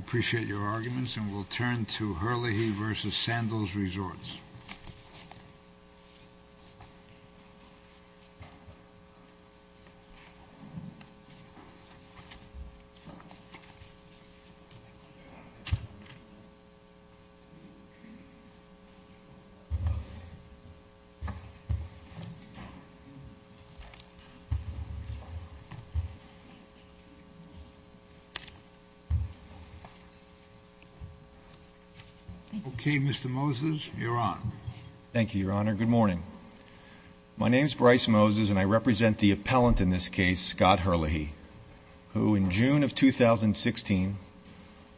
I appreciate your arguments, and we'll turn to Herlihy v. Sandals Resorts. Okay, Mr. Moses, you're on. Thank you, Your Honor. Good morning. My name is Bryce Moses, and I represent the appellant in this case, Scott Herlihy, who in June of 2016,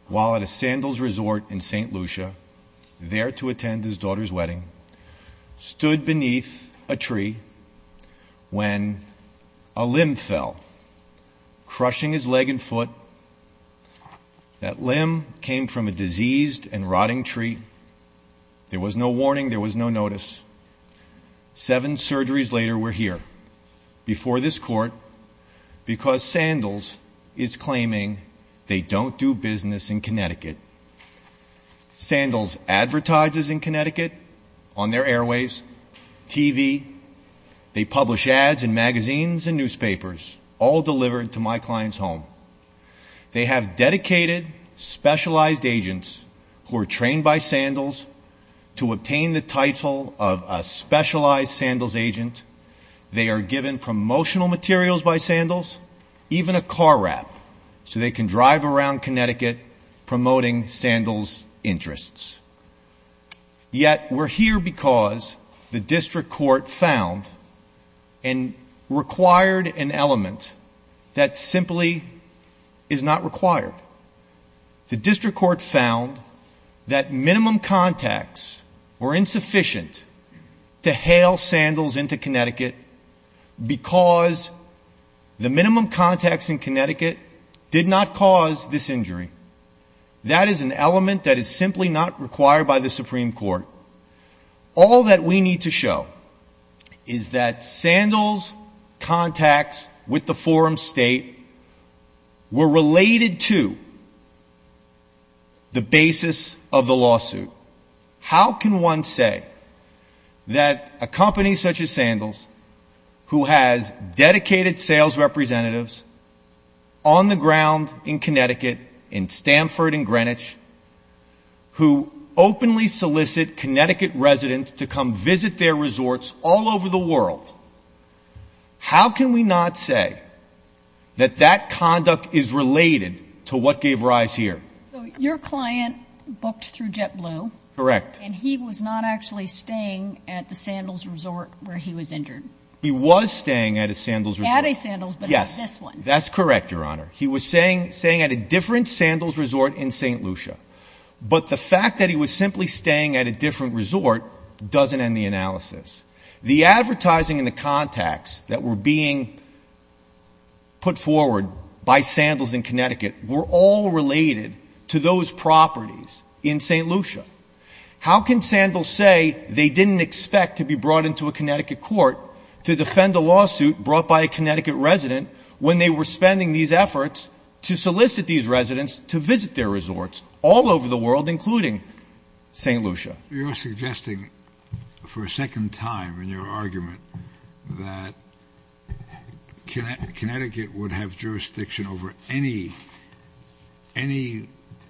while at a Sandals Resort in St. Lucia, there to attend his daughter's wedding, stood beneath a tree when a limb fell, crushing his leg and foot. That limb came from a diseased and rotting tree. There was no warning. There was no notice. Seven surgeries later, we're here, before this court, because Sandals is claiming they don't do business in Connecticut. Sandals advertises in Connecticut on their airways, TV. They publish ads in magazines and newspapers, all delivered to my client's home. They have dedicated, specialized agents who are trained by Sandals to obtain the title of a specialized Sandals agent. They are given promotional materials by Sandals, even a car wrap, so they can drive around Connecticut promoting Sandals' interests. Yet, we're here because the district court found and required an element that simply is not required. The district court found that minimum contacts were insufficient to hail Sandals into Connecticut because the minimum contacts in Connecticut did not cause this injury. That is an element that is simply not required by the Supreme Court. All that we need to show is that Sandals' contacts with the forum state were related to the basis of the lawsuit. How can one say that a company such as Sandals, who has dedicated sales representatives on the ground in Connecticut, in Stanford and Greenwich, who openly solicit Connecticut residents to come visit their resorts all over the world, how can we not say that that conduct is related to what gave rise here? So your client booked through JetBlue. Correct. And he was not actually staying at the Sandals resort where he was injured. He was staying at a Sandals resort. At a Sandals, but not this one. Yes, that's correct, Your Honor. He was staying at a different Sandals resort in St. Lucia. But the fact that he was simply staying at a different resort doesn't end the analysis. The advertising and the contacts that were being put forward by Sandals in Connecticut were all related to those properties in St. Lucia. How can Sandals say they didn't expect to be brought into a Connecticut court to defend a lawsuit brought by a Connecticut resident when they were spending these efforts to solicit these residents to visit their resorts all over the world, including St. Lucia? You're suggesting for a second time in your argument that Connecticut would have jurisdiction over any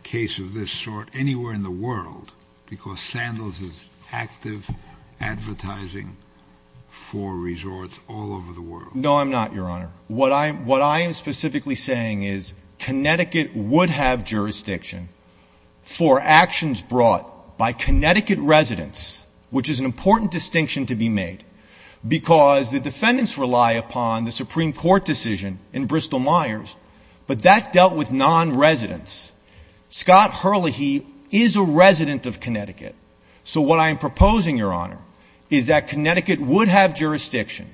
case of this sort anywhere in the world because Sandals is active advertising for resorts all over the world. No, I'm not, Your Honor. What I am specifically saying is Connecticut would have jurisdiction for actions brought by Connecticut residents, which is an important distinction to be made because the defendants rely upon the Supreme Court decision in Bristol-Myers, but that dealt with non-residents. Scott Herlihy is a resident of Connecticut, so what I am proposing, Your Honor, is that Connecticut would have jurisdiction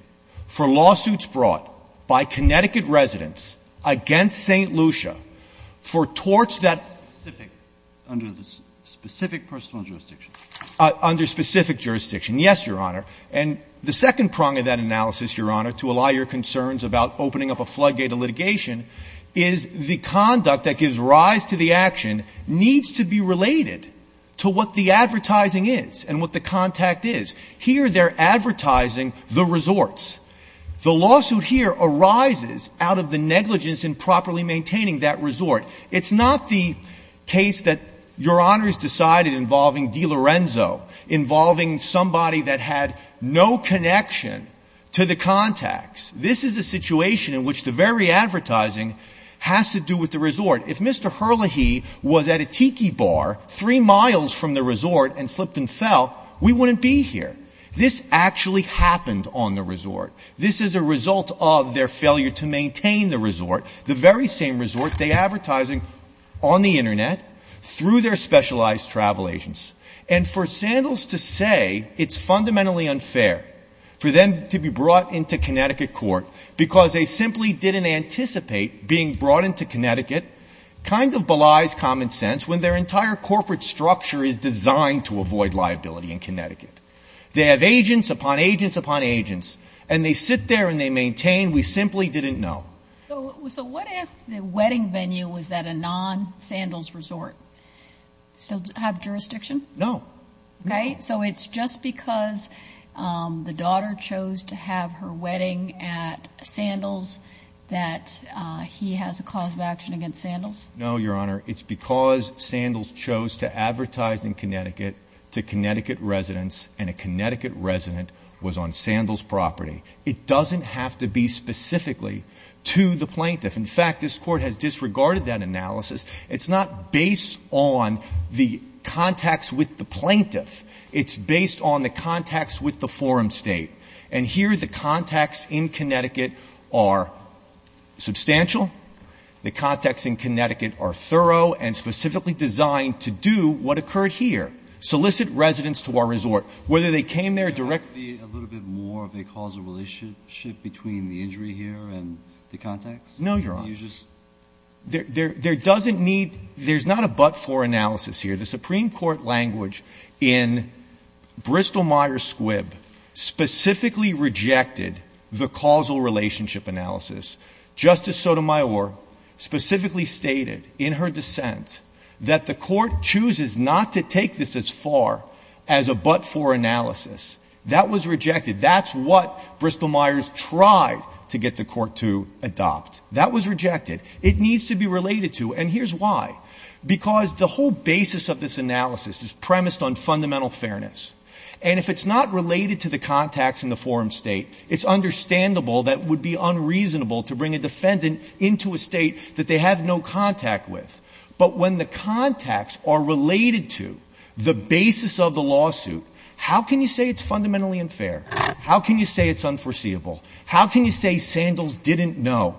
for lawsuits brought by Connecticut residents against St. Lucia for torts that under specific personal jurisdiction. Under specific jurisdiction. Yes, Your Honor. And the second prong of that analysis, Your Honor, to allow your concerns about opening up a floodgate of litigation is the conduct that gives rise to the action needs to be related to what the advertising is and what the contact is. Here they're advertising the resorts. The lawsuit here arises out of the negligence in properly maintaining that resort. It's not the case that Your Honor has decided involving DiLorenzo, involving somebody that had no connection to the contacts. This is a situation in which the very advertising has to do with the resort. If Mr. Herlihy was at a tiki bar three miles from the resort and slipped and fell, we wouldn't be here. This actually happened on the resort. This is a result of their failure to maintain the resort, the very same resort they're advertising on the Internet through their specialized travel agents. And for Sandals to say it's fundamentally unfair for them to be brought into Connecticut court because they simply didn't anticipate being brought into Connecticut kind of belies common sense when their entire corporate structure is designed to avoid liability in Connecticut. They have agents upon agents upon agents, and they sit there and they maintain we simply didn't know. So what if the wedding venue was at a non-Sandals resort? Still have jurisdiction? No. Okay. So it's just because the daughter chose to have her wedding at Sandals that he has a cause of action against Sandals? No, Your Honor. It's because Sandals chose to advertise in Connecticut to Connecticut residents and a Connecticut resident was on Sandals' property. It doesn't have to be specifically to the plaintiff. In fact, this Court has disregarded that analysis. It's not based on the contacts with the plaintiff. It's based on the contacts with the forum state. And here the contacts in Connecticut are substantial. The contacts in Connecticut are thorough and specifically designed to do what occurred here, solicit residents to our resort. Whether they came there directly or not. Could there be a little bit more of a causal relationship between the injury here and the contacts? No, Your Honor. There's not a but-for analysis here. The Supreme Court language in Bristol-Myers Squibb specifically rejected the causal relationship analysis. Justice Sotomayor specifically stated in her dissent that the Court chooses not to take this as far as a but-for analysis. That was rejected. That's what Bristol-Myers tried to get the Court to adopt. That was rejected. It needs to be related to, and here's why. Because the whole basis of this analysis is premised on fundamental fairness. And if it's not related to the contacts in the forum state, it's understandable that it would be unreasonable to bring a defendant into a state that they have no contact with. But when the contacts are related to the basis of the lawsuit, how can you say it's fundamentally unfair? How can you say it's unforeseeable? How can you say Sandals didn't know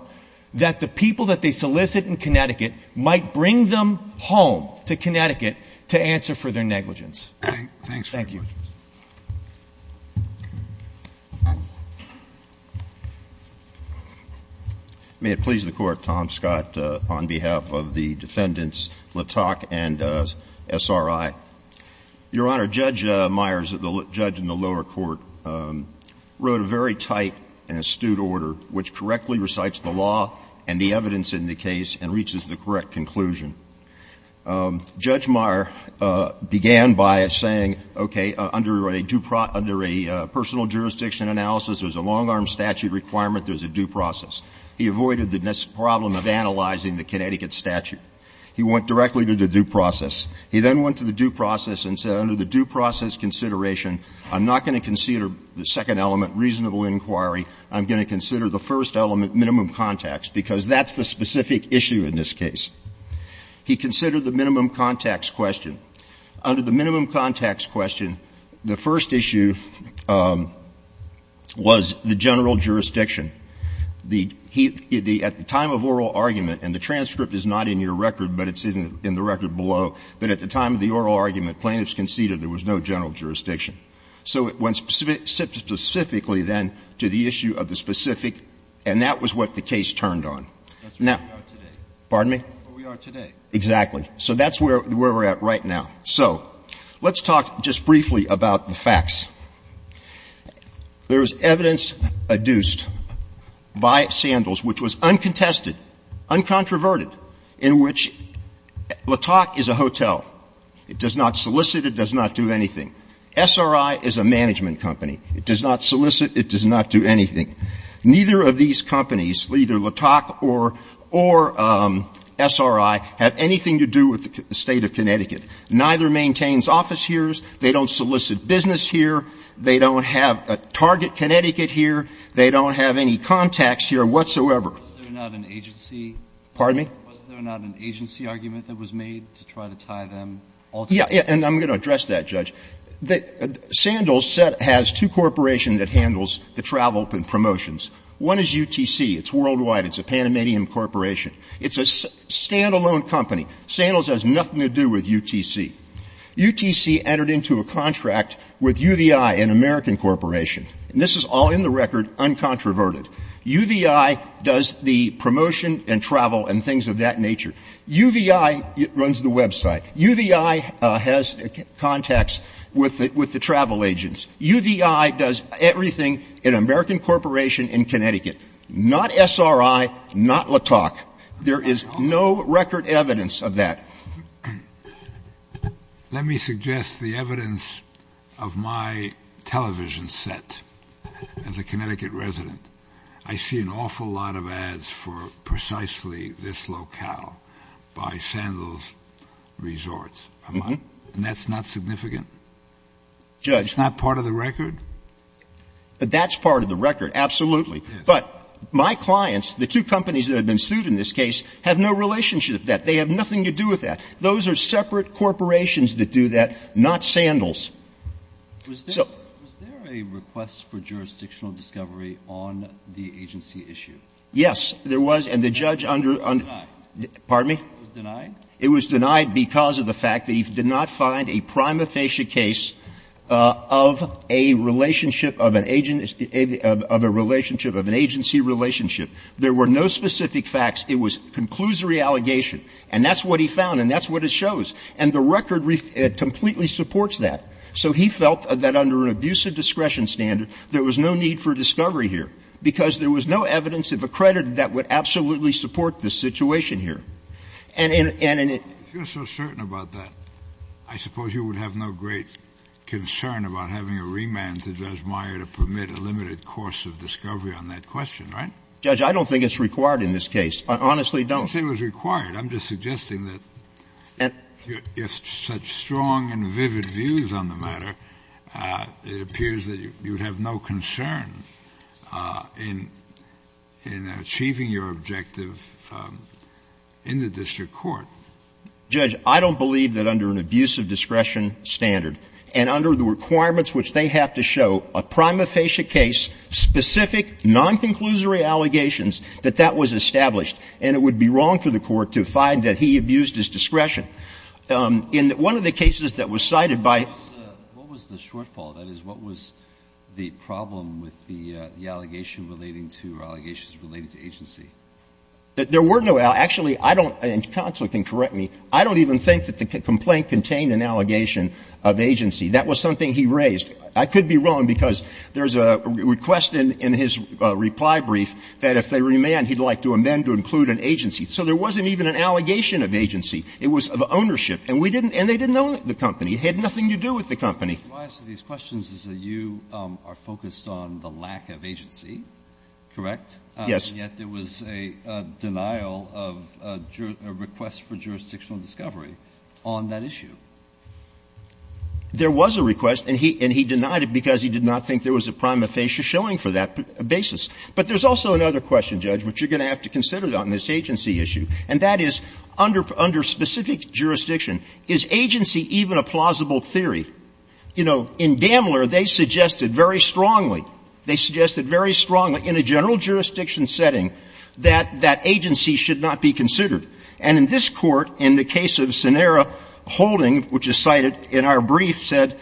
that the people that they solicit in Connecticut might bring them home to Connecticut to answer for their negligence? Thank you. May it please the Court. Tom Scott on behalf of the defendants, Latak and SRI. Your Honor, Judge Myers, the judge in the lower court, wrote a very tight and astute order which correctly recites the law and the evidence in the case and reaches the correct conclusion. Judge Myers began by saying, okay, under a personal jurisdiction analysis, there's a long-arm statute requirement, there's a due process. He avoided the problem of analyzing the Connecticut statute. He went directly to the due process. He then went to the due process and said, under the due process consideration, I'm not going to consider the second element, reasonable inquiry. I'm going to consider the first element, minimum contacts, because that's the specific issue in this case. He considered the minimum contacts question. Under the minimum contacts question, the first issue was the general jurisdiction. At the time of oral argument, and the transcript is not in your record, but it's in the record below, but at the time of the oral argument, plaintiffs conceded there was no general jurisdiction. So it went specifically then to the issue of the specific, and that was what the case turned on. Now, pardon me? Exactly. So that's where we're at right now. So let's talk just briefly about the facts. There is evidence adduced by Sandals which was uncontested, uncontroverted, in which Latok is a hotel. It does not solicit. It does not do anything. SRI is a management company. It does not solicit. It does not do anything. Neither of these companies, either Latok or SRI, have anything to do with the State of Connecticut. Neither maintains office here. They don't solicit business here. They don't have a target Connecticut here. They don't have any contacts here whatsoever. Was there not an agency? Pardon me? Was there not an agency argument that was made to try to tie them all together? And I'm going to address that, Judge. Sandals has two corporations that handles the travel and promotions. One is UTC. It's worldwide. It's a Panamanian corporation. It's a standalone company. Sandals has nothing to do with UTC. UTC entered into a contract with UVI, an American corporation. And this is all in the record uncontroverted. UVI does the promotion and travel and things of that nature. UVI runs the website. UVI has contacts with the travel agents. UVI does everything, an American corporation in Connecticut. Not SRI, not Latok. There is no record evidence of that. Let me suggest the evidence of my television set as a Connecticut resident. I see an awful lot of ads for precisely this locale by Sandals Resorts. And that's not significant? It's not part of the record? But that's part of the record. Absolutely. But my clients, the two companies that have been sued in this case, have no relationship to that. They have nothing to do with that. Those are separate corporations that do that, not Sandals. Yes. So. Was there a request for jurisdictional discovery on the agency issue? Yes. There was. And the judge under under. It was denied? It was denied because of the fact that he did not find a prima facie case of a relationship of an agency relationship. There were no specific facts. It was a conclusory allegation. And that's what he found. And that's what it shows. And the record completely supports that. So he felt that under an abusive discretion standard, there was no need for discovery here, because there was no evidence if accredited that would absolutely support this situation here. And in. If you're so certain about that, I suppose you would have no great concern about having a remand to Judge Meyer to permit a limited course of discovery on that question, right? Judge, I don't think it's required in this case. I honestly don't. I don't think it was required. I'm just suggesting that if such strong and vivid views on the matter, it appears that you would have no concern in achieving your objective in the district court. Judge, I don't believe that under an abusive discretion standard and under the requirements which they have to show a prima facie case, specific non-conclusory allegations that that was established. And it would be wrong for the Court to find that he abused his discretion. In one of the cases that was cited by. Alito, what was the shortfall? That is, what was the problem with the allegation relating to or allegations relating to agency? There were no allegations. Actually, I don't. And counsel can correct me. I don't even think that the complaint contained an allegation of agency. That was something he raised. I could be wrong because there's a request in his reply brief that if they remand, he'd like to amend to include an agency. So there wasn't even an allegation of agency. It was of ownership. And we didn't and they didn't own the company. It had nothing to do with the company. Why I ask these questions is that you are focused on the lack of agency, correct? Yes. Yet there was a denial of a request for jurisdictional discovery on that issue. There was a request, and he denied it because he did not think there was a prima facie showing for that basis. But there's also another question, Judge, which you're going to have to consider on this agency issue, and that is, under specific jurisdiction, is agency even a plausible theory? You know, in Gamler, they suggested very strongly, they suggested very strongly in a general jurisdiction setting that that agency should not be considered. And in this Court, in the case of Scenera Holding, which is cited in our brief, said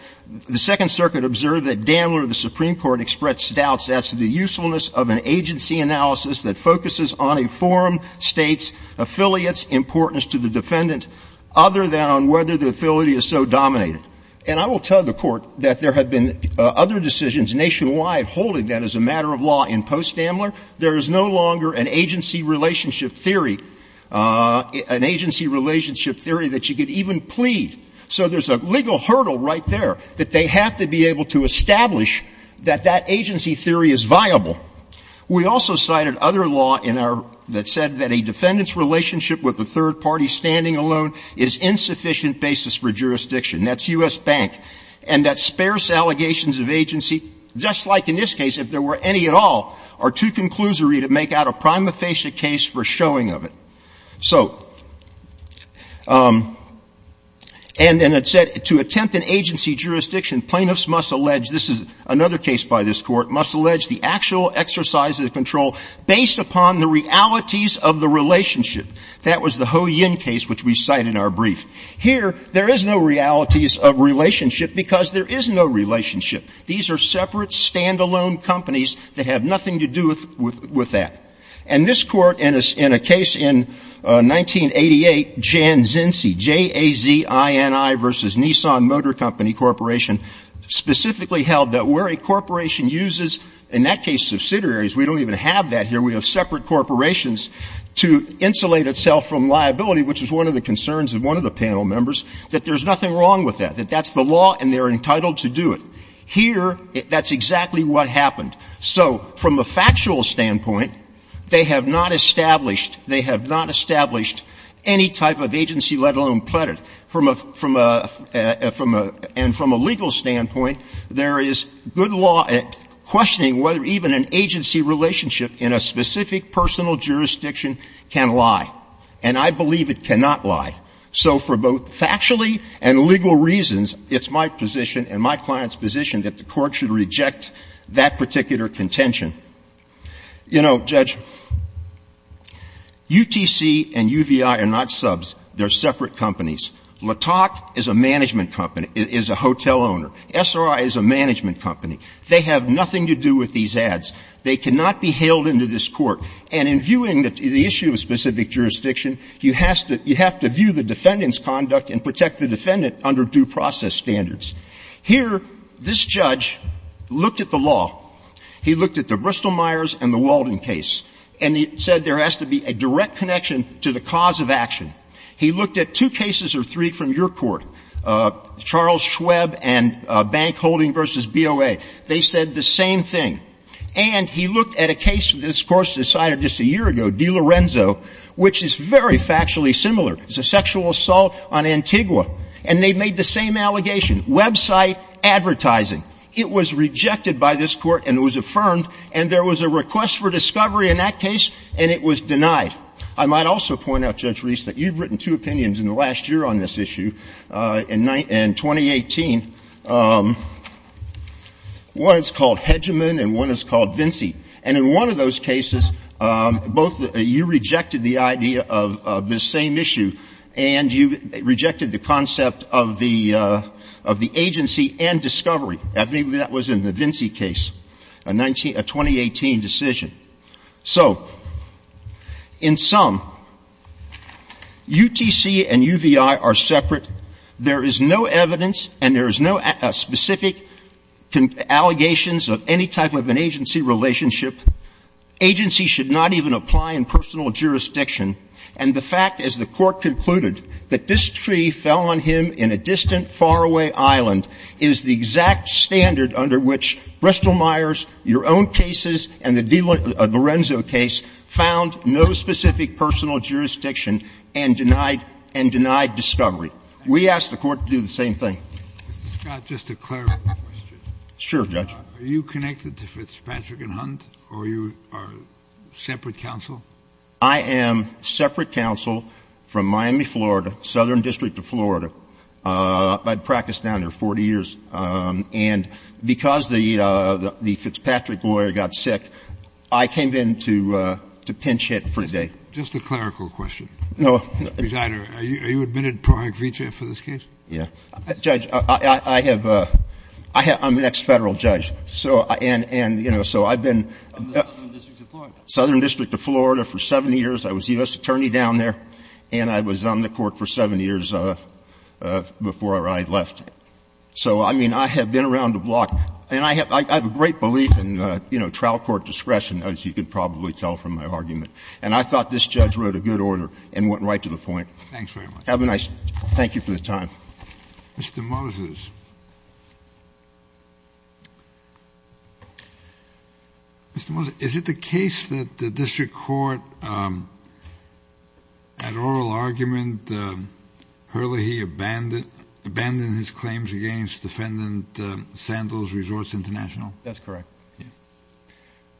the Second Circuit observed that Gamler, the Supreme Court, expressed doubts as to the usefulness of an agency analysis that focuses on a forum, States, affiliates, importance to the defendant, other than on whether the affiliate is so dominated. And I will tell the Court that there have been other decisions nationwide holding that as a matter of law in post-Gamler. There is no longer an agency relationship theory, an agency relationship theory that you could even plead. So there's a legal hurdle right there that they have to be able to establish that that agency theory is viable. We also cited other law in our – that said that a defendant's relationship with a third party standing alone is insufficient basis for jurisdiction. That's U.S. Bank. And that sparse allegations of agency, just like in this case, if there were any at all, are too conclusory to make out a prima facie case for showing of it. So – and then it said, to attempt an agency jurisdiction, plaintiffs must allege – this is another case by this Court – must allege the actual exercise of the control based upon the realities of the relationship. That was the Ho Yin case, which we cite in our brief. Here, there is no realities of relationship because there is no relationship. These are separate, stand-alone companies that have nothing to do with that. And this Court, in a case in 1988, Jan Zinzi, J-A-Z-I-N-I v. Nissan Motor Company Corporation, specifically held that where a corporation uses, in that case, subsidiaries – we don't even have that here, we have separate corporations – to insulate itself from liability, which is one of the concerns of one of the panel members, that there's nothing wrong with that, that that's the law and they're entitled to do it. Here, that's exactly what happened. So from a factual standpoint, they have not established – they have not established any type of agency, let alone plethora. From a – and from a legal standpoint, there is good law questioning whether even an agency relationship in a specific personal jurisdiction can lie. And I believe it cannot lie. So for both factually and legal reasons, it's my position and my client's position that the Court should reject that particular contention. You know, Judge, UTC and UVI are not subs. They're separate companies. Latok is a management company, is a hotel owner. SRI is a management company. They have nothing to do with these ads. They cannot be hailed into this Court. And in viewing the issue of specific jurisdiction, you have to – you have to view the defendant's conduct and protect the defendant under due process standards. Here, this judge looked at the law. He looked at the Bristol-Myers and the Walden case, and he said there has to be a direct connection to the cause of action. He looked at two cases or three from your Court, Charles Schweb and Bank Holding v. BOA. They said the same thing. And he looked at a case that this Court decided just a year ago, DiLorenzo, which is very factually similar. It's a sexual assault on Antigua. And they made the same allegation, website advertising. It was rejected by this Court and it was affirmed, and there was a request for discovery in that case, and it was denied. I might also point out, Judge Reese, that you've written two opinions in the last year on this issue in 2018. One is called Hedgeman and one is called Vinci. And in one of those cases, both you rejected the idea of this same issue and you rejected the concept of the agency and discovery. I think that was in the Vinci case, a 2018 decision. So in sum, UTC and UVI are separate. There is no evidence and there is no specific allegations of any type of an agency relationship. Agency should not even apply in personal jurisdiction. And the fact, as the Court concluded, that this tree fell on him in a distant, faraway island is the exact standard under which Bristol-Myers, your own cases, and the Lorenzo case found no specific personal jurisdiction and denied discovery. We ask the Court to do the same thing. Kennedy. Mr. Scott, just a clarifying question. Sure, Judge. Are you connected to Fitzpatrick and Hunt or you are separate counsel? I am separate counsel from Miami, Florida, Southern District of Florida. I practiced down there 40 years. And because the Fitzpatrick lawyer got sick, I came in to pinch hit for the day. Just a clerical question. No. Are you admitted pro act vitae for this case? Yeah. Judge, I have — I'm an ex-Federal judge. And, you know, so I've been — In the Southern District of Florida. Southern District of Florida for seven years. I was U.S. attorney down there and I was on the Court for seven years before I left. So, I mean, I have been around the block. And I have a great belief in, you know, trial court discretion, as you can probably tell from my argument. And I thought this judge wrote a good order and went right to the point. Thanks very much. Have a nice — thank you for the time. Mr. Moses. Mr. Moses, is it the case that the district court, at oral argument, hurriedly abandoned his claims against defendant Sandals Resorts International? That's correct.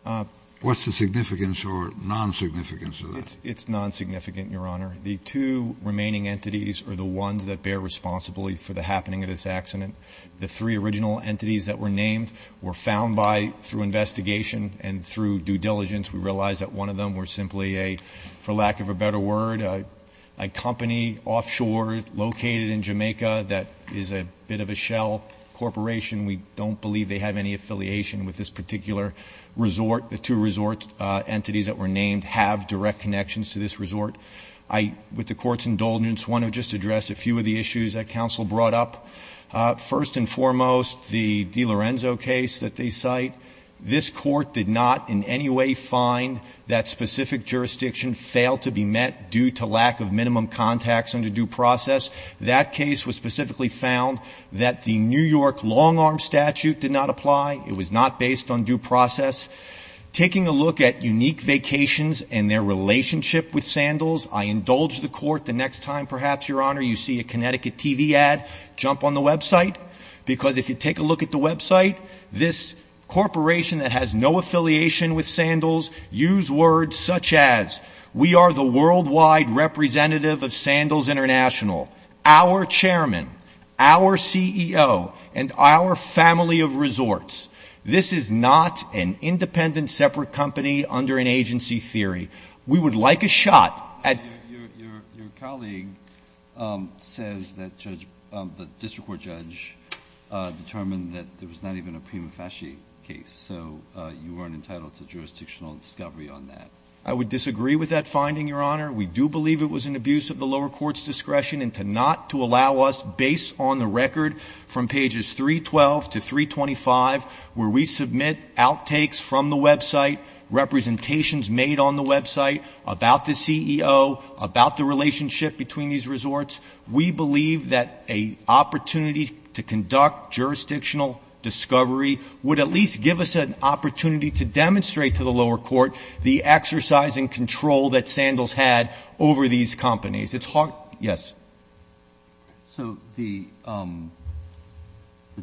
Yeah. What's the significance or non-significance of that? It's non-significant, Your Honor. The two remaining entities are the ones that bear responsibility for the happening of this accident. The three original entities that were named were found by, through investigation and through due diligence, we realized that one of them were simply a, for lack of a better word, a company offshore located in Jamaica that is a bit of a shell corporation. We don't believe they have any affiliation with this particular resort. The two resort entities that were named have direct connections to this resort. I, with the Court's indulgence, want to just address a few of the issues that counsel brought up. First and foremost, the DiLorenzo case that they cite. This Court did not in any way find that specific jurisdiction failed to be met due to lack of minimum contacts under due process. That case was specifically found that the New York long-arm statute did not apply. It was not based on due process. Taking a look at Unique Vacations and their relationship with Sandals, I indulge the Court the next time perhaps, Your Honor, you see a Connecticut TV ad, jump on the website, because if you take a look at the website, this corporation that has no affiliation with Sandals, use words such as, we are the worldwide representative of Sandals International, our chairman, our CEO, and our family of resorts. This is not an independent separate company under an agency theory. We would like a shot at ---- Your colleague says that the district court judge determined that there was not even a prima facie case, so you weren't entitled to jurisdictional discovery on that. I would disagree with that finding, Your Honor. We do believe it was an abuse of the lower court's discretion not to allow us, based on the record from pages 312 to 325, where we submit outtakes from the website, representations made on the website about the CEO, about the relationship between these resorts, we believe that an opportunity to conduct jurisdictional discovery would at least give us an opportunity to demonstrate to the lower court the exercise and control that Sandals had over these companies. It's hard ---- Yes. So the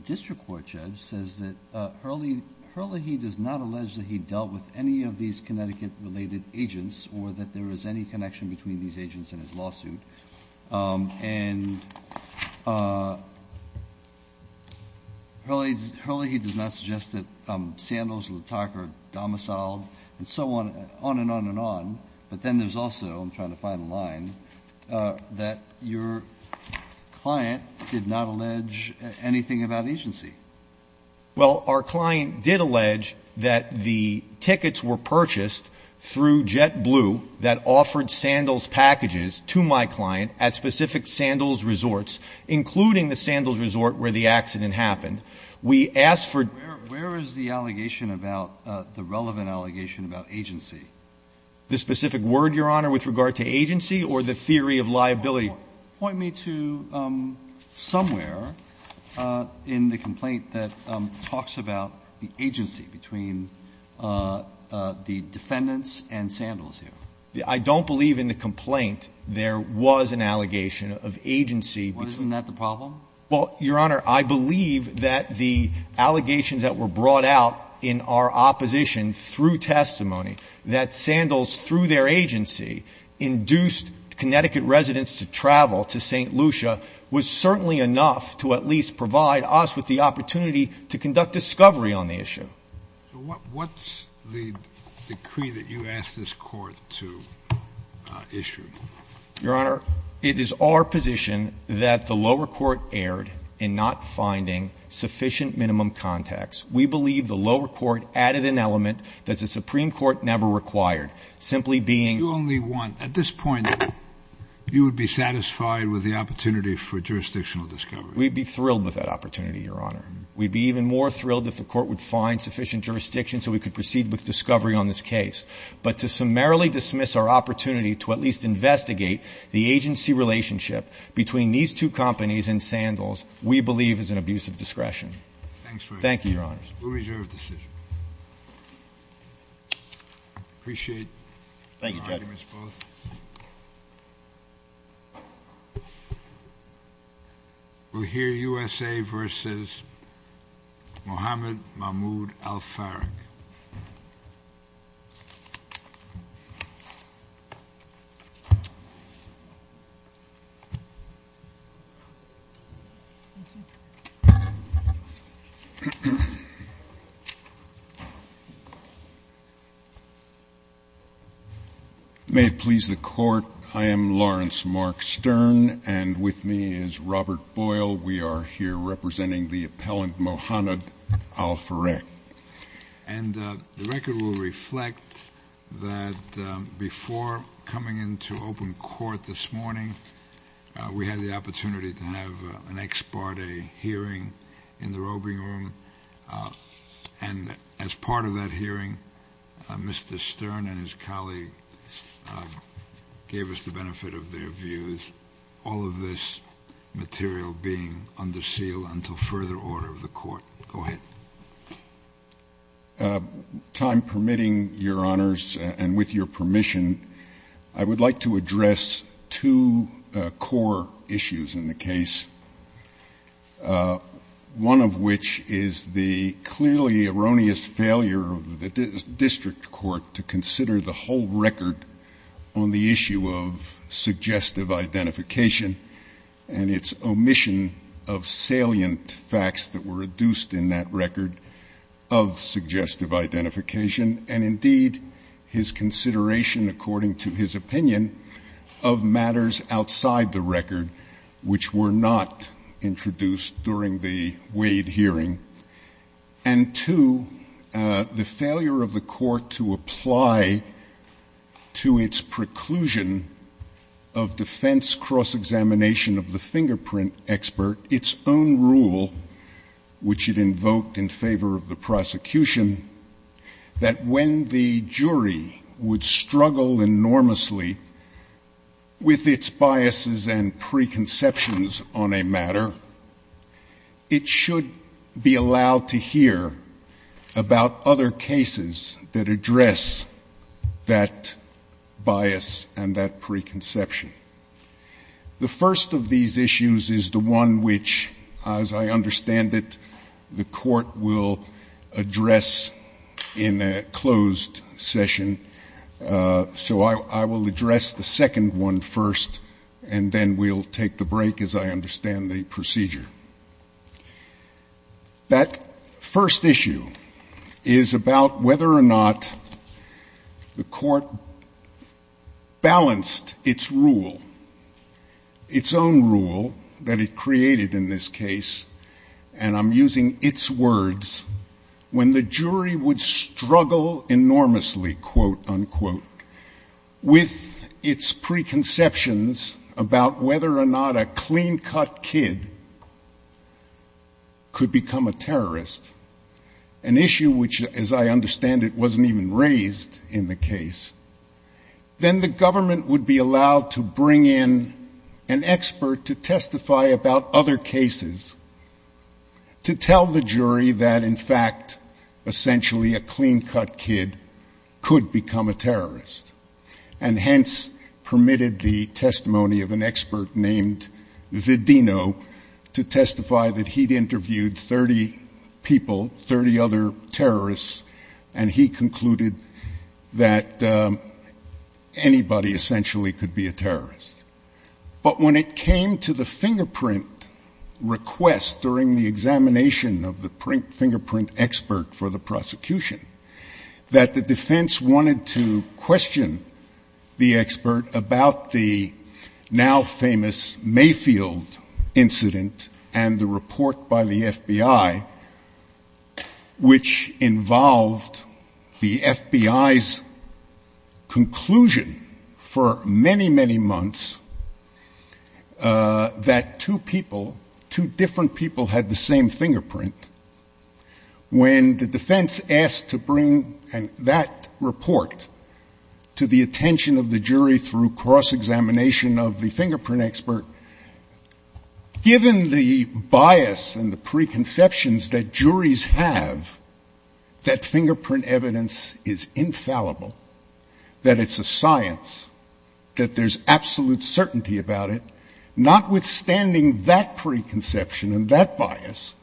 district court judge says that Hurley, Hurley does not allege that he dealt with any of these Connecticut-related agents or that there is any connection between these agents in his lawsuit. And Hurley, Hurley, he does not suggest that Sandals, LaTarka are domiciled and so on, on and on and on. But then there's also, I'm trying to find a line, that your client did not allege anything about agency. Well, our client did allege that the tickets were purchased through JetBlue that offered Sandals packages to my client at specific Sandals resorts, including the Sandals resort where the accident happened. We asked for ---- Where is the allegation about, the relevant allegation about agency? The specific word, Your Honor, with regard to agency or the theory of liability? Point me to somewhere in the complaint that talks about the agency between the defendants and Sandals here. I don't believe in the complaint there was an allegation of agency between ---- Well, isn't that the problem? Well, Your Honor, I believe that the allegations that were brought out in our opposition through testimony that Sandals, through their agency, induced Connecticut residents to travel to St. Lucia was certainly enough to at least provide us with the opportunity to conduct discovery on the issue. What's the decree that you asked this Court to issue? Your Honor, it is our position that the lower court erred in not finding sufficient minimum contacts. We believe the lower court added an element that the Supreme Court never required, simply being ---- You only want, at this point, you would be satisfied with the opportunity for jurisdictional discovery. We'd be thrilled with that opportunity, Your Honor. We'd be even more thrilled if the Court would find sufficient jurisdiction so we could proceed with discovery on this case. But to summarily dismiss our opportunity to at least investigate the agency relationship between these two companies and Sandals, we believe is an abuse of discretion. Thanks very much. Thank you, Your Honors. Appreciate your arguments both. Thank you, Judge. We'll hear U.S.A. v. Muhammad Mahmoud al-Farrakh. May it please the Court, I am Lawrence Mark Stern, and with me is Robert Boyle. We are here representing the appellant Muhammad al-Farrakh. And the record will reflect that before coming into open court this morning, we had the opportunity to have an ex parte hearing in the roving room. And as part of that hearing, Mr. Stern and his colleague gave us the benefit of their views, all of this material being under seal until further order of the Court. Go ahead. Time permitting, Your Honors, and with your permission, I would like to address two core issues in the case, one of which is the clearly erroneous failure of the district court to consider the whole record on the issue of suggestive identification and its omission of salient facts that were reduced in that record of suggestive identification, and indeed his consideration, according to his opinion, of matters outside the record which were not introduced during the Wade hearing. And two, the failure of the Court to apply to its preclusion of defense cross-examination of the fingerprint expert its own rule, which it invoked in favor of the prosecution, that when the jury would struggle enormously with its biases and preconceptions on a matter, it should be allowed to hear about other cases that address that bias and that preconception. The first of these issues is the one which, as I understand it, the Court will address in a closed session. So I will address the second one first, and then we'll take the break as I understand the procedure. That first issue is about whether or not the Court balanced its rule, its own rule that it created in this case, and I'm using its words, when the jury would struggle enormously, quote, unquote, with its preconceptions about whether or not a clean-cut kid could become a terrorist, an issue which, as I understand it, wasn't even raised in the case, then the government would be allowed to bring in an expert to testify about other cases to tell the jury that, in fact, essentially a clean-cut kid could become a terrorist. And hence permitted the testimony of an expert named Zedino to testify that he'd that anybody essentially could be a terrorist. But when it came to the fingerprint request during the examination of the fingerprint expert for the prosecution, that the defense wanted to question the expert about the now conclusion for many, many months that two people, two different people had the same fingerprint, when the defense asked to bring that report to the attention of the jury through cross-examination of the fingerprint expert, given the bias and the preconceptions that juries have that fingerprint evidence is infallible, that it's a science, that there's absolute certainty about it, notwithstanding that preconception and that bias,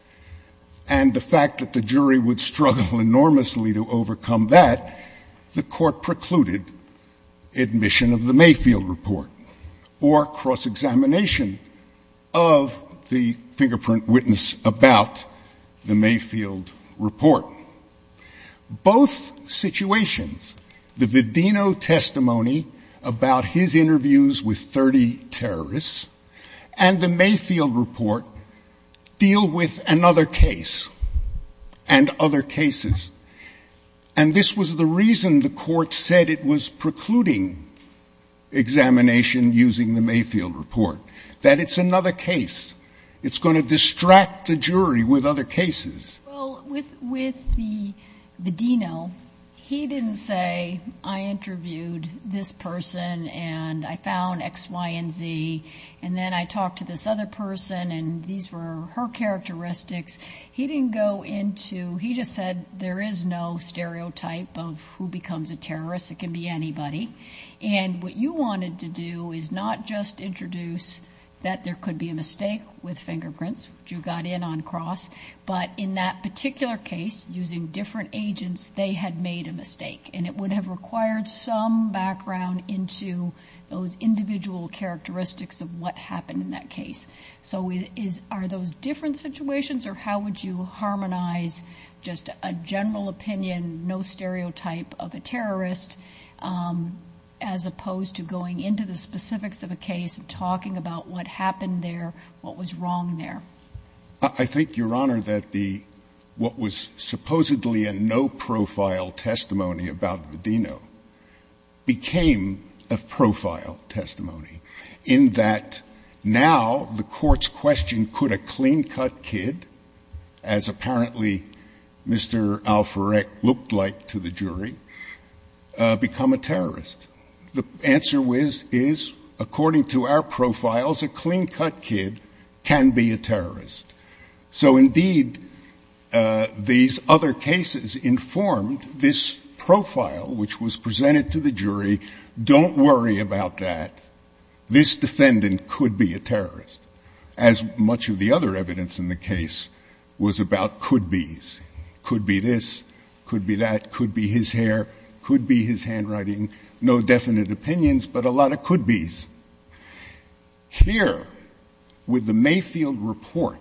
and the fact that the jury would struggle enormously to overcome that, the court precluded admission of the Mayfield report or cross-examination of the fingerprint witness about the Mayfield report. Both situations, the Zedino testimony about his interviews with 30 terrorists and the Mayfield report deal with another case and other cases, and this was the reason the court said it was precluding examination using the Mayfield report, that it's another case. It's going to distract the jury with other cases. Well, with the Zedino, he didn't say, I interviewed this person, and I found X, Y, and Z, and then I talked to this other person, and these were her characteristics. He didn't go into he just said there is no stereotype of who becomes a terrorist. It can be anybody. And what you wanted to do is not just introduce that there could be a mistake with fingerprints, which you got in on cross, but in that particular case, using different agents, they had made a mistake, and it would have required some background into those individual characteristics of what happened in that case. So are those different situations, or how would you harmonize just a general opinion, no stereotype of a terrorist, as opposed to going into the specifics of a case and talking about what happened there, what was wrong there? I think, Your Honor, that the what was supposedly a no-profile testimony about Zedino became a profile testimony, in that now the court's question, could a clean-cut kid, as apparently Mr. Alfurek looked like to the jury, become a terrorist? The answer is, according to our profiles, a clean-cut kid can be a terrorist. So indeed, these other cases informed this profile, which was presented to the jury, don't worry about that. This defendant could be a terrorist, as much of the other evidence in the case was about could-bes. Could be this, could be that, could be his hair, could be his handwriting. No definite opinions, but a lot of could-bes. Here, with the Mayfield report,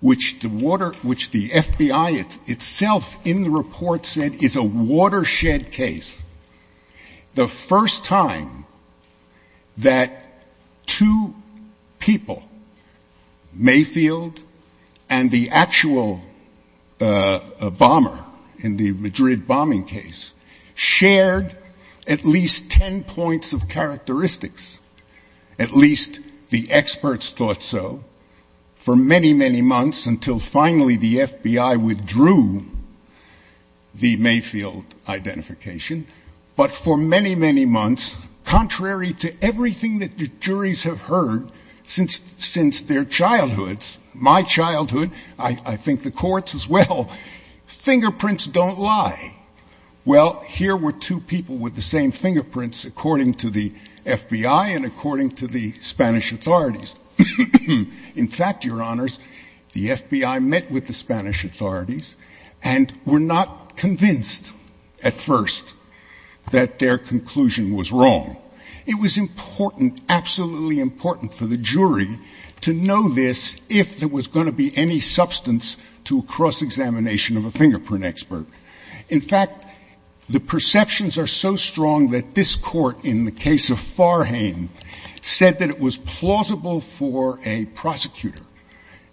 which the water the FBI itself in the report said is a watershed case, the first time that two people, Mayfield, Zedino, and Mayfield, and the actual bomber in the Madrid bombing case, shared at least ten points of characteristics, at least the experts thought so, for many, many months, until finally the FBI withdrew the Mayfield identification, but for many, many months, contrary to my childhood, I think the courts as well, fingerprints don't lie. Well, here were two people with the same fingerprints, according to the FBI and according to the Spanish authorities. In fact, Your Honors, the FBI met with the Spanish authorities and were not convinced at first that their conclusion was wrong. It was important, absolutely important for the jury to know this if there was going to be any substance to a cross-examination of a fingerprint expert. In fact, the perceptions are so strong that this court, in the case of Farhane, said that it was plausible for a prosecutor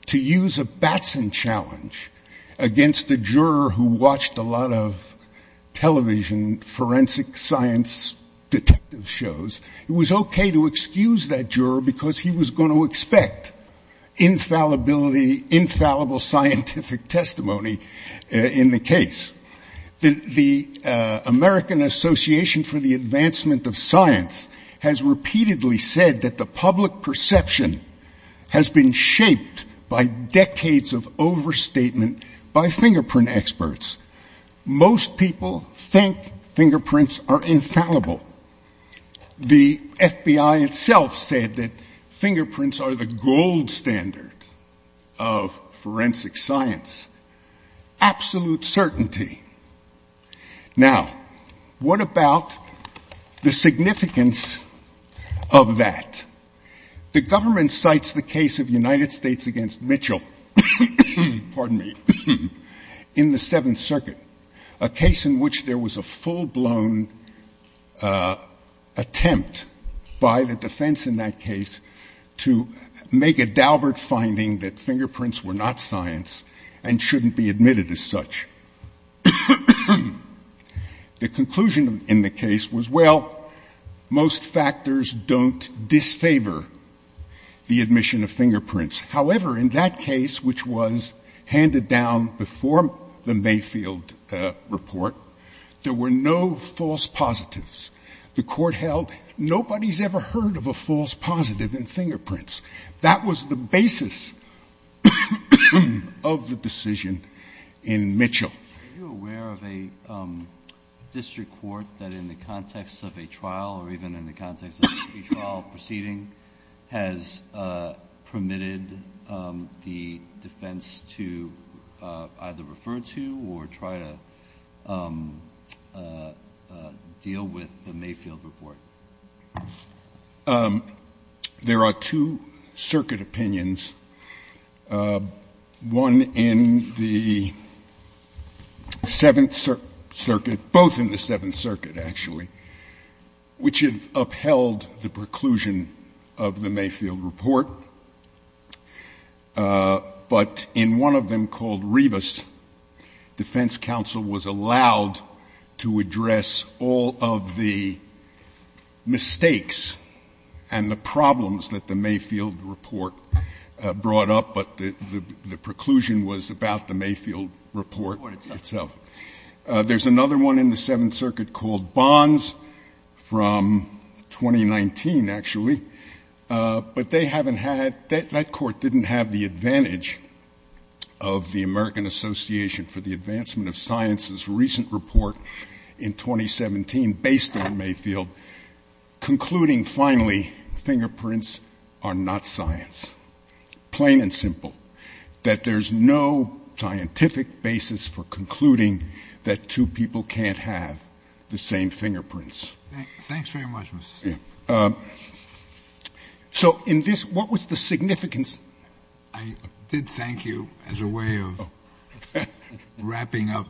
to use a Batson challenge against a juror who watched a lot of television. It was okay to excuse that juror because he was going to expect infallibility, infallible scientific testimony in the case. The American Association for the Advancement of Science has repeatedly said that the public perception has been shaped by decades of overstatement by fingerprint experts. Most people think fingerprints are infallible. The FBI itself said that fingerprints are the gold standard of forensic science. Absolute certainty. Now, what about the significance of that? The government cites the case of United States against Mitchell, pardon me, in the Seventh Circuit, a case in which there was a full blown attempt by the defense in that case to make a daubert finding that fingerprints were not science and shouldn't be admitted as such. The conclusion in the case was, well, most factors don't disfavor the admission of fingerprints. However, in that case, which was handed down before the Mayfield report, there were no false positives. The Court held nobody has ever heard of a false positive in fingerprints. That was the basis of the decision in Mitchell. Are you aware of a district court that in the context of a trial, or even in the context of a trial proceeding, has permitted the defense to either refer to or try to deny the evidence or try to deal with the Mayfield report? There are two circuit opinions, one in the Seventh Circuit, both in the Seventh Circuit, actually, which have upheld the preclusion of the Mayfield report. But in one of them called Rivas, defense counsel was allowed to address all of the mistakes and the problems that the Mayfield report brought up, but the preclusion was about the Mayfield report itself. There's another one in the Seventh Circuit called Bonds from 2019, actually. But they haven't had — that court didn't have the advantage of the American Association for the Advancement of Science's recent report in 2017 based on Mayfield concluding, finally, fingerprints are not science, plain and simple, that there's no scientific basis for concluding that two people can't have the same fingerprints. So in this — what was the significance? I did thank you as a way of wrapping up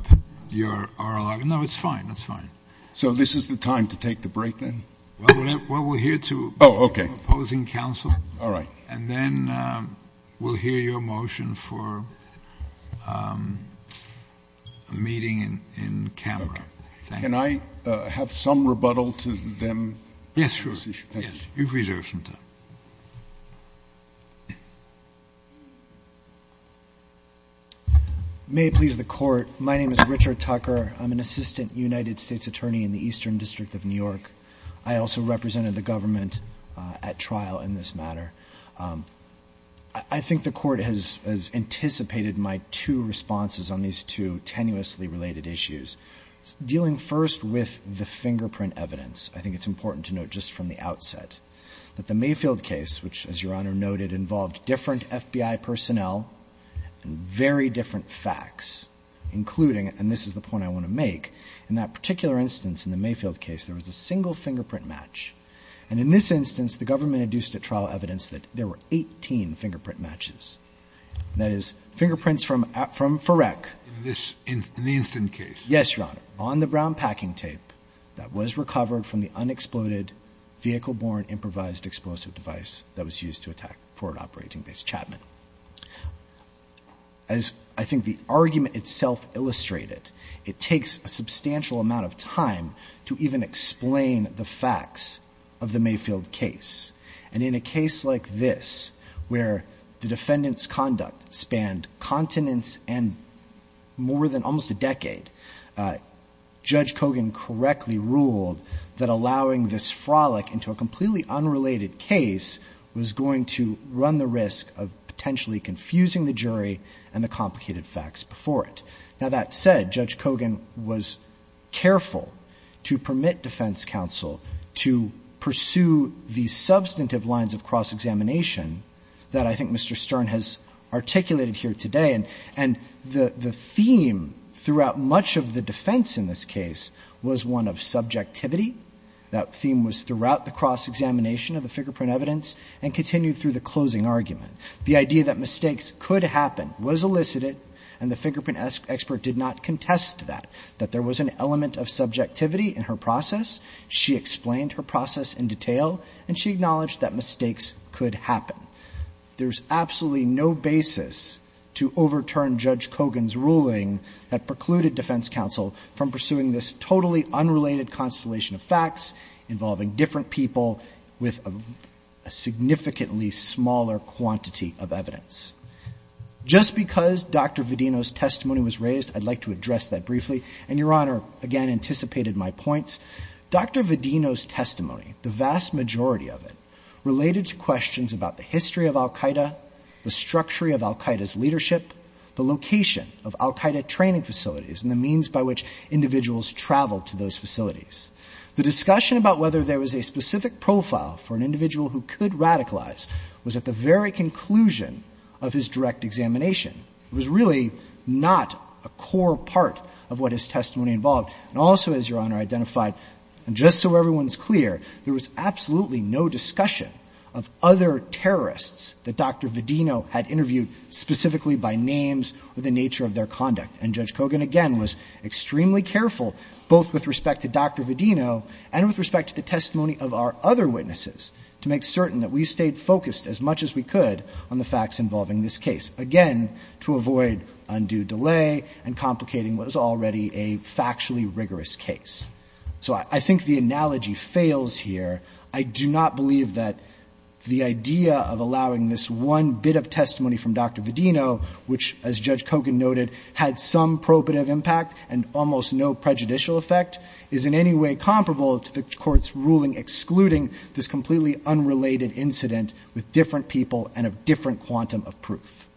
your oral argument. No, it's fine. It's fine. So this is the time to take the break, then? Well, we'll hear to opposing counsel, and then we'll hear your motion for a meeting in camera. Can I have some rebuttal to them on this issue? Yes, sure. You've reserved some time. May it please the Court. My name is Richard Tucker. I'm an assistant United States attorney in the Eastern District of New York. I also represented the government at trial in this matter. I think the Court has anticipated my two responses on these two tenuously related issues. Dealing first with the fingerprint evidence, I think it's important to note just from the outset that the Mayfield case, which, as Your Honor noted, involved different FBI personnel and very different facts, including — and this is the point I want to make — in that particular instance, in the Mayfield case, there was a single fingerprint match. And in this instance, the government induced at trial evidence that there were 18 fingerprint matches. That is, fingerprints from Ferrec. In this — in the instant case? Yes, Your Honor. On the brown packing tape that was recovered from the unexploded vehicle-borne improvised explosive device that was used to attack Forward Operating Base Chapman. As I think the argument itself illustrated, it takes a substantial amount of time to even explain the facts of the Mayfield case. And in a case like this, where the defendant's conduct spanned continents and more than almost a decade, Judge Kogan correctly ruled that allowing this frolic into a completely unrelated case was going to run the risk of potentially confusing the jury and the complicated facts before it. Now, that said, Judge Kogan was careful to permit defense counsel to pursue the substantive lines of cross-examination that I think Mr. Stern has articulated here today. And the theme throughout much of the defense in this case was one of subjectivity. That theme was throughout the cross-examination of the fingerprint evidence and continued through the closing argument. The idea that mistakes could happen was elicited, and the fingerprint expert did not contest that, that there was an element of subjectivity in her process. She explained her process in detail, and she acknowledged that mistakes could happen. There's absolutely no basis to overturn Judge Kogan's ruling that precluded defense counsel from pursuing this totally unrelated constellation of facts involving different people with a significantly smaller quantity of evidence. Just because Dr. Vedino's testimony was raised, I'd like to address that briefly. And Your Honor, again, anticipated my points. Dr. Vedino's testimony, the vast majority of it, related to questions about the history of al Qaeda, the structure of al Qaeda's leadership, the location of al Qaeda training facilities, and the means by which individuals traveled to those facilities. The discussion about whether there was a specific profile for an individual who could radicalize was at the very conclusion of his direct examination. It was really not a core part of what his testimony involved. And also, as Your Honor identified, and just so everyone's clear, there was absolutely no discussion of other terrorists that Dr. Vedino had interviewed specifically by names or the nature of their conduct. And Judge Kogan, again, was extremely careful, both with respect to Dr. Vedino and with respect to the testimony of our other witnesses, to make certain that we stayed focused as much as we could on the facts involving this case, again, to avoid undue delay and complicating what was already a factually rigorous case. So I think the analogy fails here. I do not believe that the idea of allowing this one bit of testimony from Dr. Vedino, which, as Judge Kogan noted, had some probative impact and almost no prejudicial effect, is in any way comparable to the Court's ruling excluding this completely unrelated incident with different people and a different quantum of proof.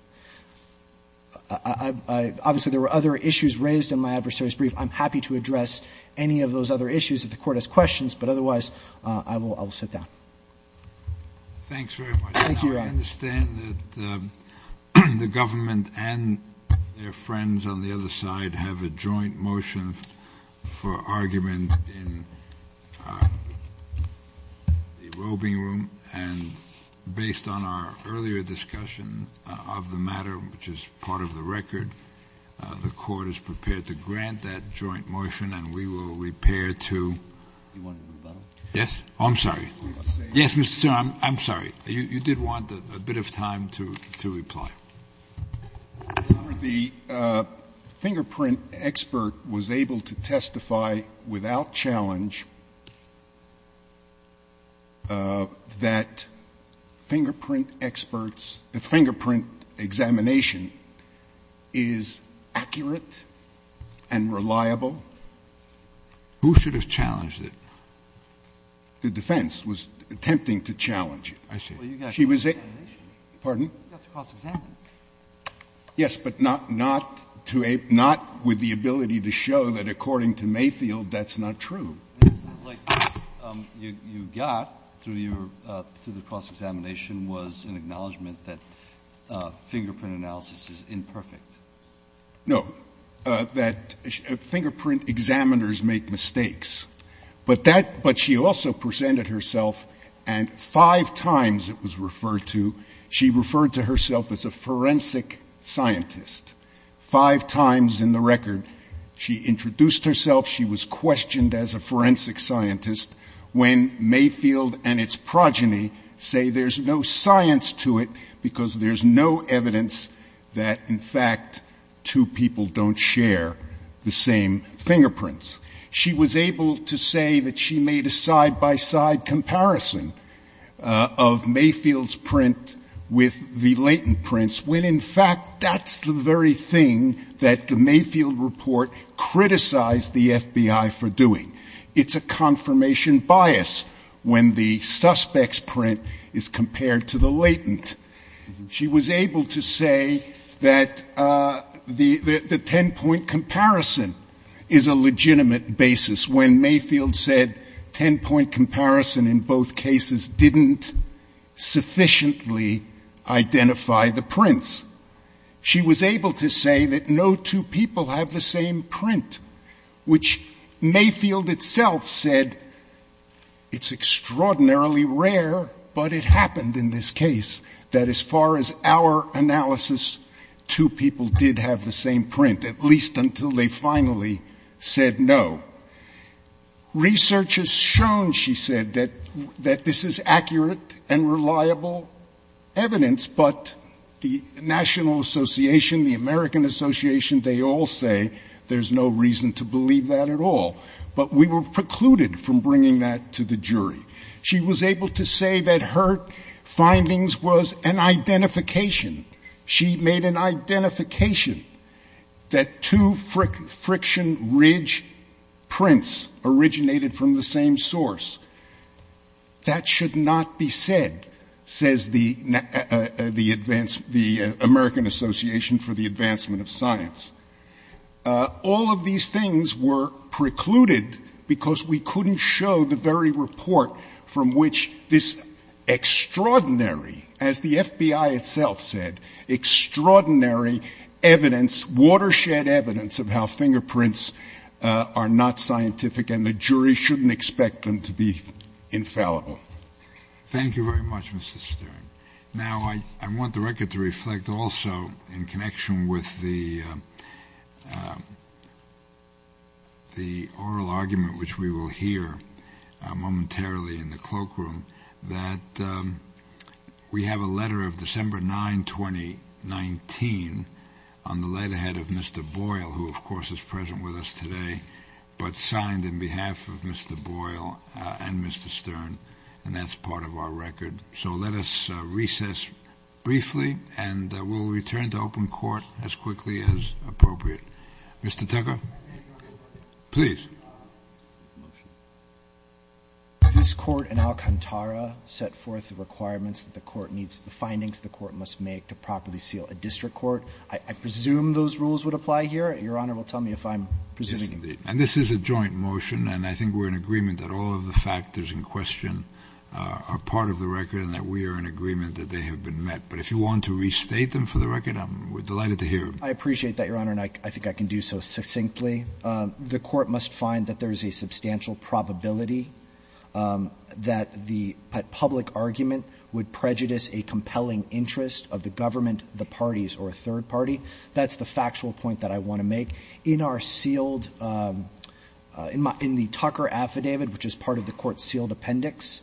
Obviously, there were other issues raised in my adversary's brief. I'm happy to address any of those other issues if the Court has questions. But otherwise, I will sit down. Thanks very much, Your Honor. I understand that the government and their friends on the other side have a joint motion for argument in the robing room. And based on our earlier discussion of the matter, which is part of the record, the Court is prepared to grant that joint motion, and we will repair to. Do you want to move on? Yes. Oh, I'm sorry. Yes, Mr. Sotomayor. I'm sorry. You did want a bit of time to reply. The fingerprint expert was able to testify without challenge that fingerprint experts, the fingerprint examination is accurate and reliable. Who should have challenged it? The defense was attempting to challenge it. I see. Well, you got cross-examination. Pardon? You got to cross-examine. Yes, but not with the ability to show that, according to Mayfield, that's not true. It seems like what you got through the cross-examination was an acknowledgment that fingerprint analysis is imperfect. No, that fingerprint examiners make mistakes. But she also presented herself, and five times it was referred to, she referred to herself as a forensic scientist, five times in the record. She introduced herself. She was questioned as a forensic scientist when Mayfield and its progeny say there's no science to it because there's no evidence that, in fact, two people don't share the same fingerprints. She was able to say that she made a side-by-side comparison of Mayfield's print with the latent prints when, in fact, that's the very thing that the Mayfield report criticized the FBI for doing. It's a confirmation bias when the suspect's print is compared to the latent. She was able to say that the ten-point comparison is a legitimate basis when Mayfield said ten-point comparison in both cases didn't sufficiently identify the prints. She was able to say that no two people have the same print, which Mayfield itself said it's extraordinarily rare, but it happened in this case, that as far as our analysis, two people did have the same print, at least until they finally said no. Research has shown, she said, that this is accurate and reliable evidence, but the National Association, the American Association, they all say there's no reason to believe that at all. But we were precluded from bringing that to the jury. She was able to say that her findings was an identification. She made an identification that two friction ridge prints originated from the same source. That should not be said, says the American Association for the Advancement of Science. All of these things were precluded because we couldn't show the very report from which this extraordinary, as the FBI itself said, extraordinary evidence, watershed evidence of how fingerprints are not scientific and the jury shouldn't expect them to be infallible. Thank you very much, Mr. Stern. Now, I want the record to reflect also in connection with the oral argument, which we will hear momentarily in the cloakroom, that we have a letter of December 9, 2019 on the letterhead of Mr. Boyle, who, of course, is present with us today, but signed in behalf of Mr. Boyle and Mr. Stern, and that's part of our record. So let us recess briefly, and we'll return to open court as quickly as appropriate. Mr. Tucker, please. This court in Alcantara set forth the requirements that the court needs, the findings the court must make to properly seal a district court. I presume those rules would apply here. Your Honor will tell me if I'm presuming them. Yes, indeed. And this is a joint motion, and I think we're in agreement that all of the factors in question are part of the record and that we are in agreement that they have been met. But if you want to restate them for the record, we're delighted to hear them. I appreciate that, Your Honor, and I think I can do so succinctly. The court must find that there is a substantial probability that the public argument would prejudice a compelling interest of the government, the parties, or a third party. That's the factual point that I want to make. In our sealed – in the Tucker affidavit, which is part of the court's sealed appendix,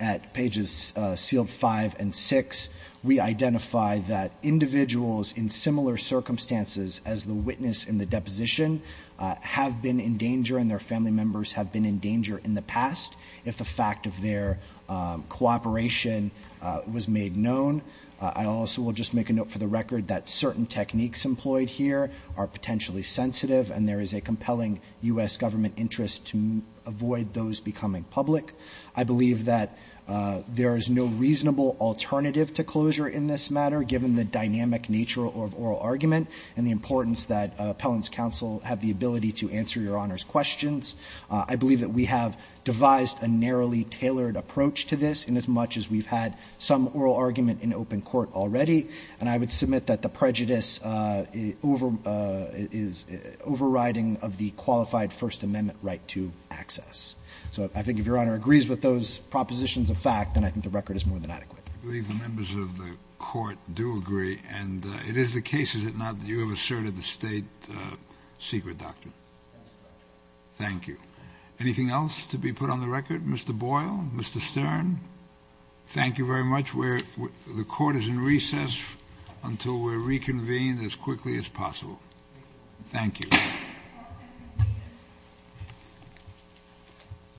at pages sealed 5 and 6, we identify that individuals in similar circumstances as the witness in the deposition have been in danger and their family members have been in danger in the past if the fact of their cooperation was made known. I also will just make a note for the record that certain techniques employed here are potentially sensitive, and there is a compelling U.S. government interest to avoid those becoming public. I believe that there is no reasonable alternative to closure in this matter, given the dynamic nature of oral argument and the importance that appellants' counsel have the ability to answer Your Honor's questions. I believe that we have devised a narrowly tailored approach to this inasmuch as we've had some oral argument in open court already, and I would submit that the prejudice is overriding of the qualified First Amendment right to access. So I think if Your Honor agrees with those propositions of fact, then I think the record is more than adequate. I believe the members of the court do agree, and it is the case, is it not, that you have asserted the State secret doctrine. Thank you. Anything else to be put on the record? Mr. Boyle? Mr. Stern? Thank you very much. The court is in recess until we're reconvened as quickly as possible. Thank you.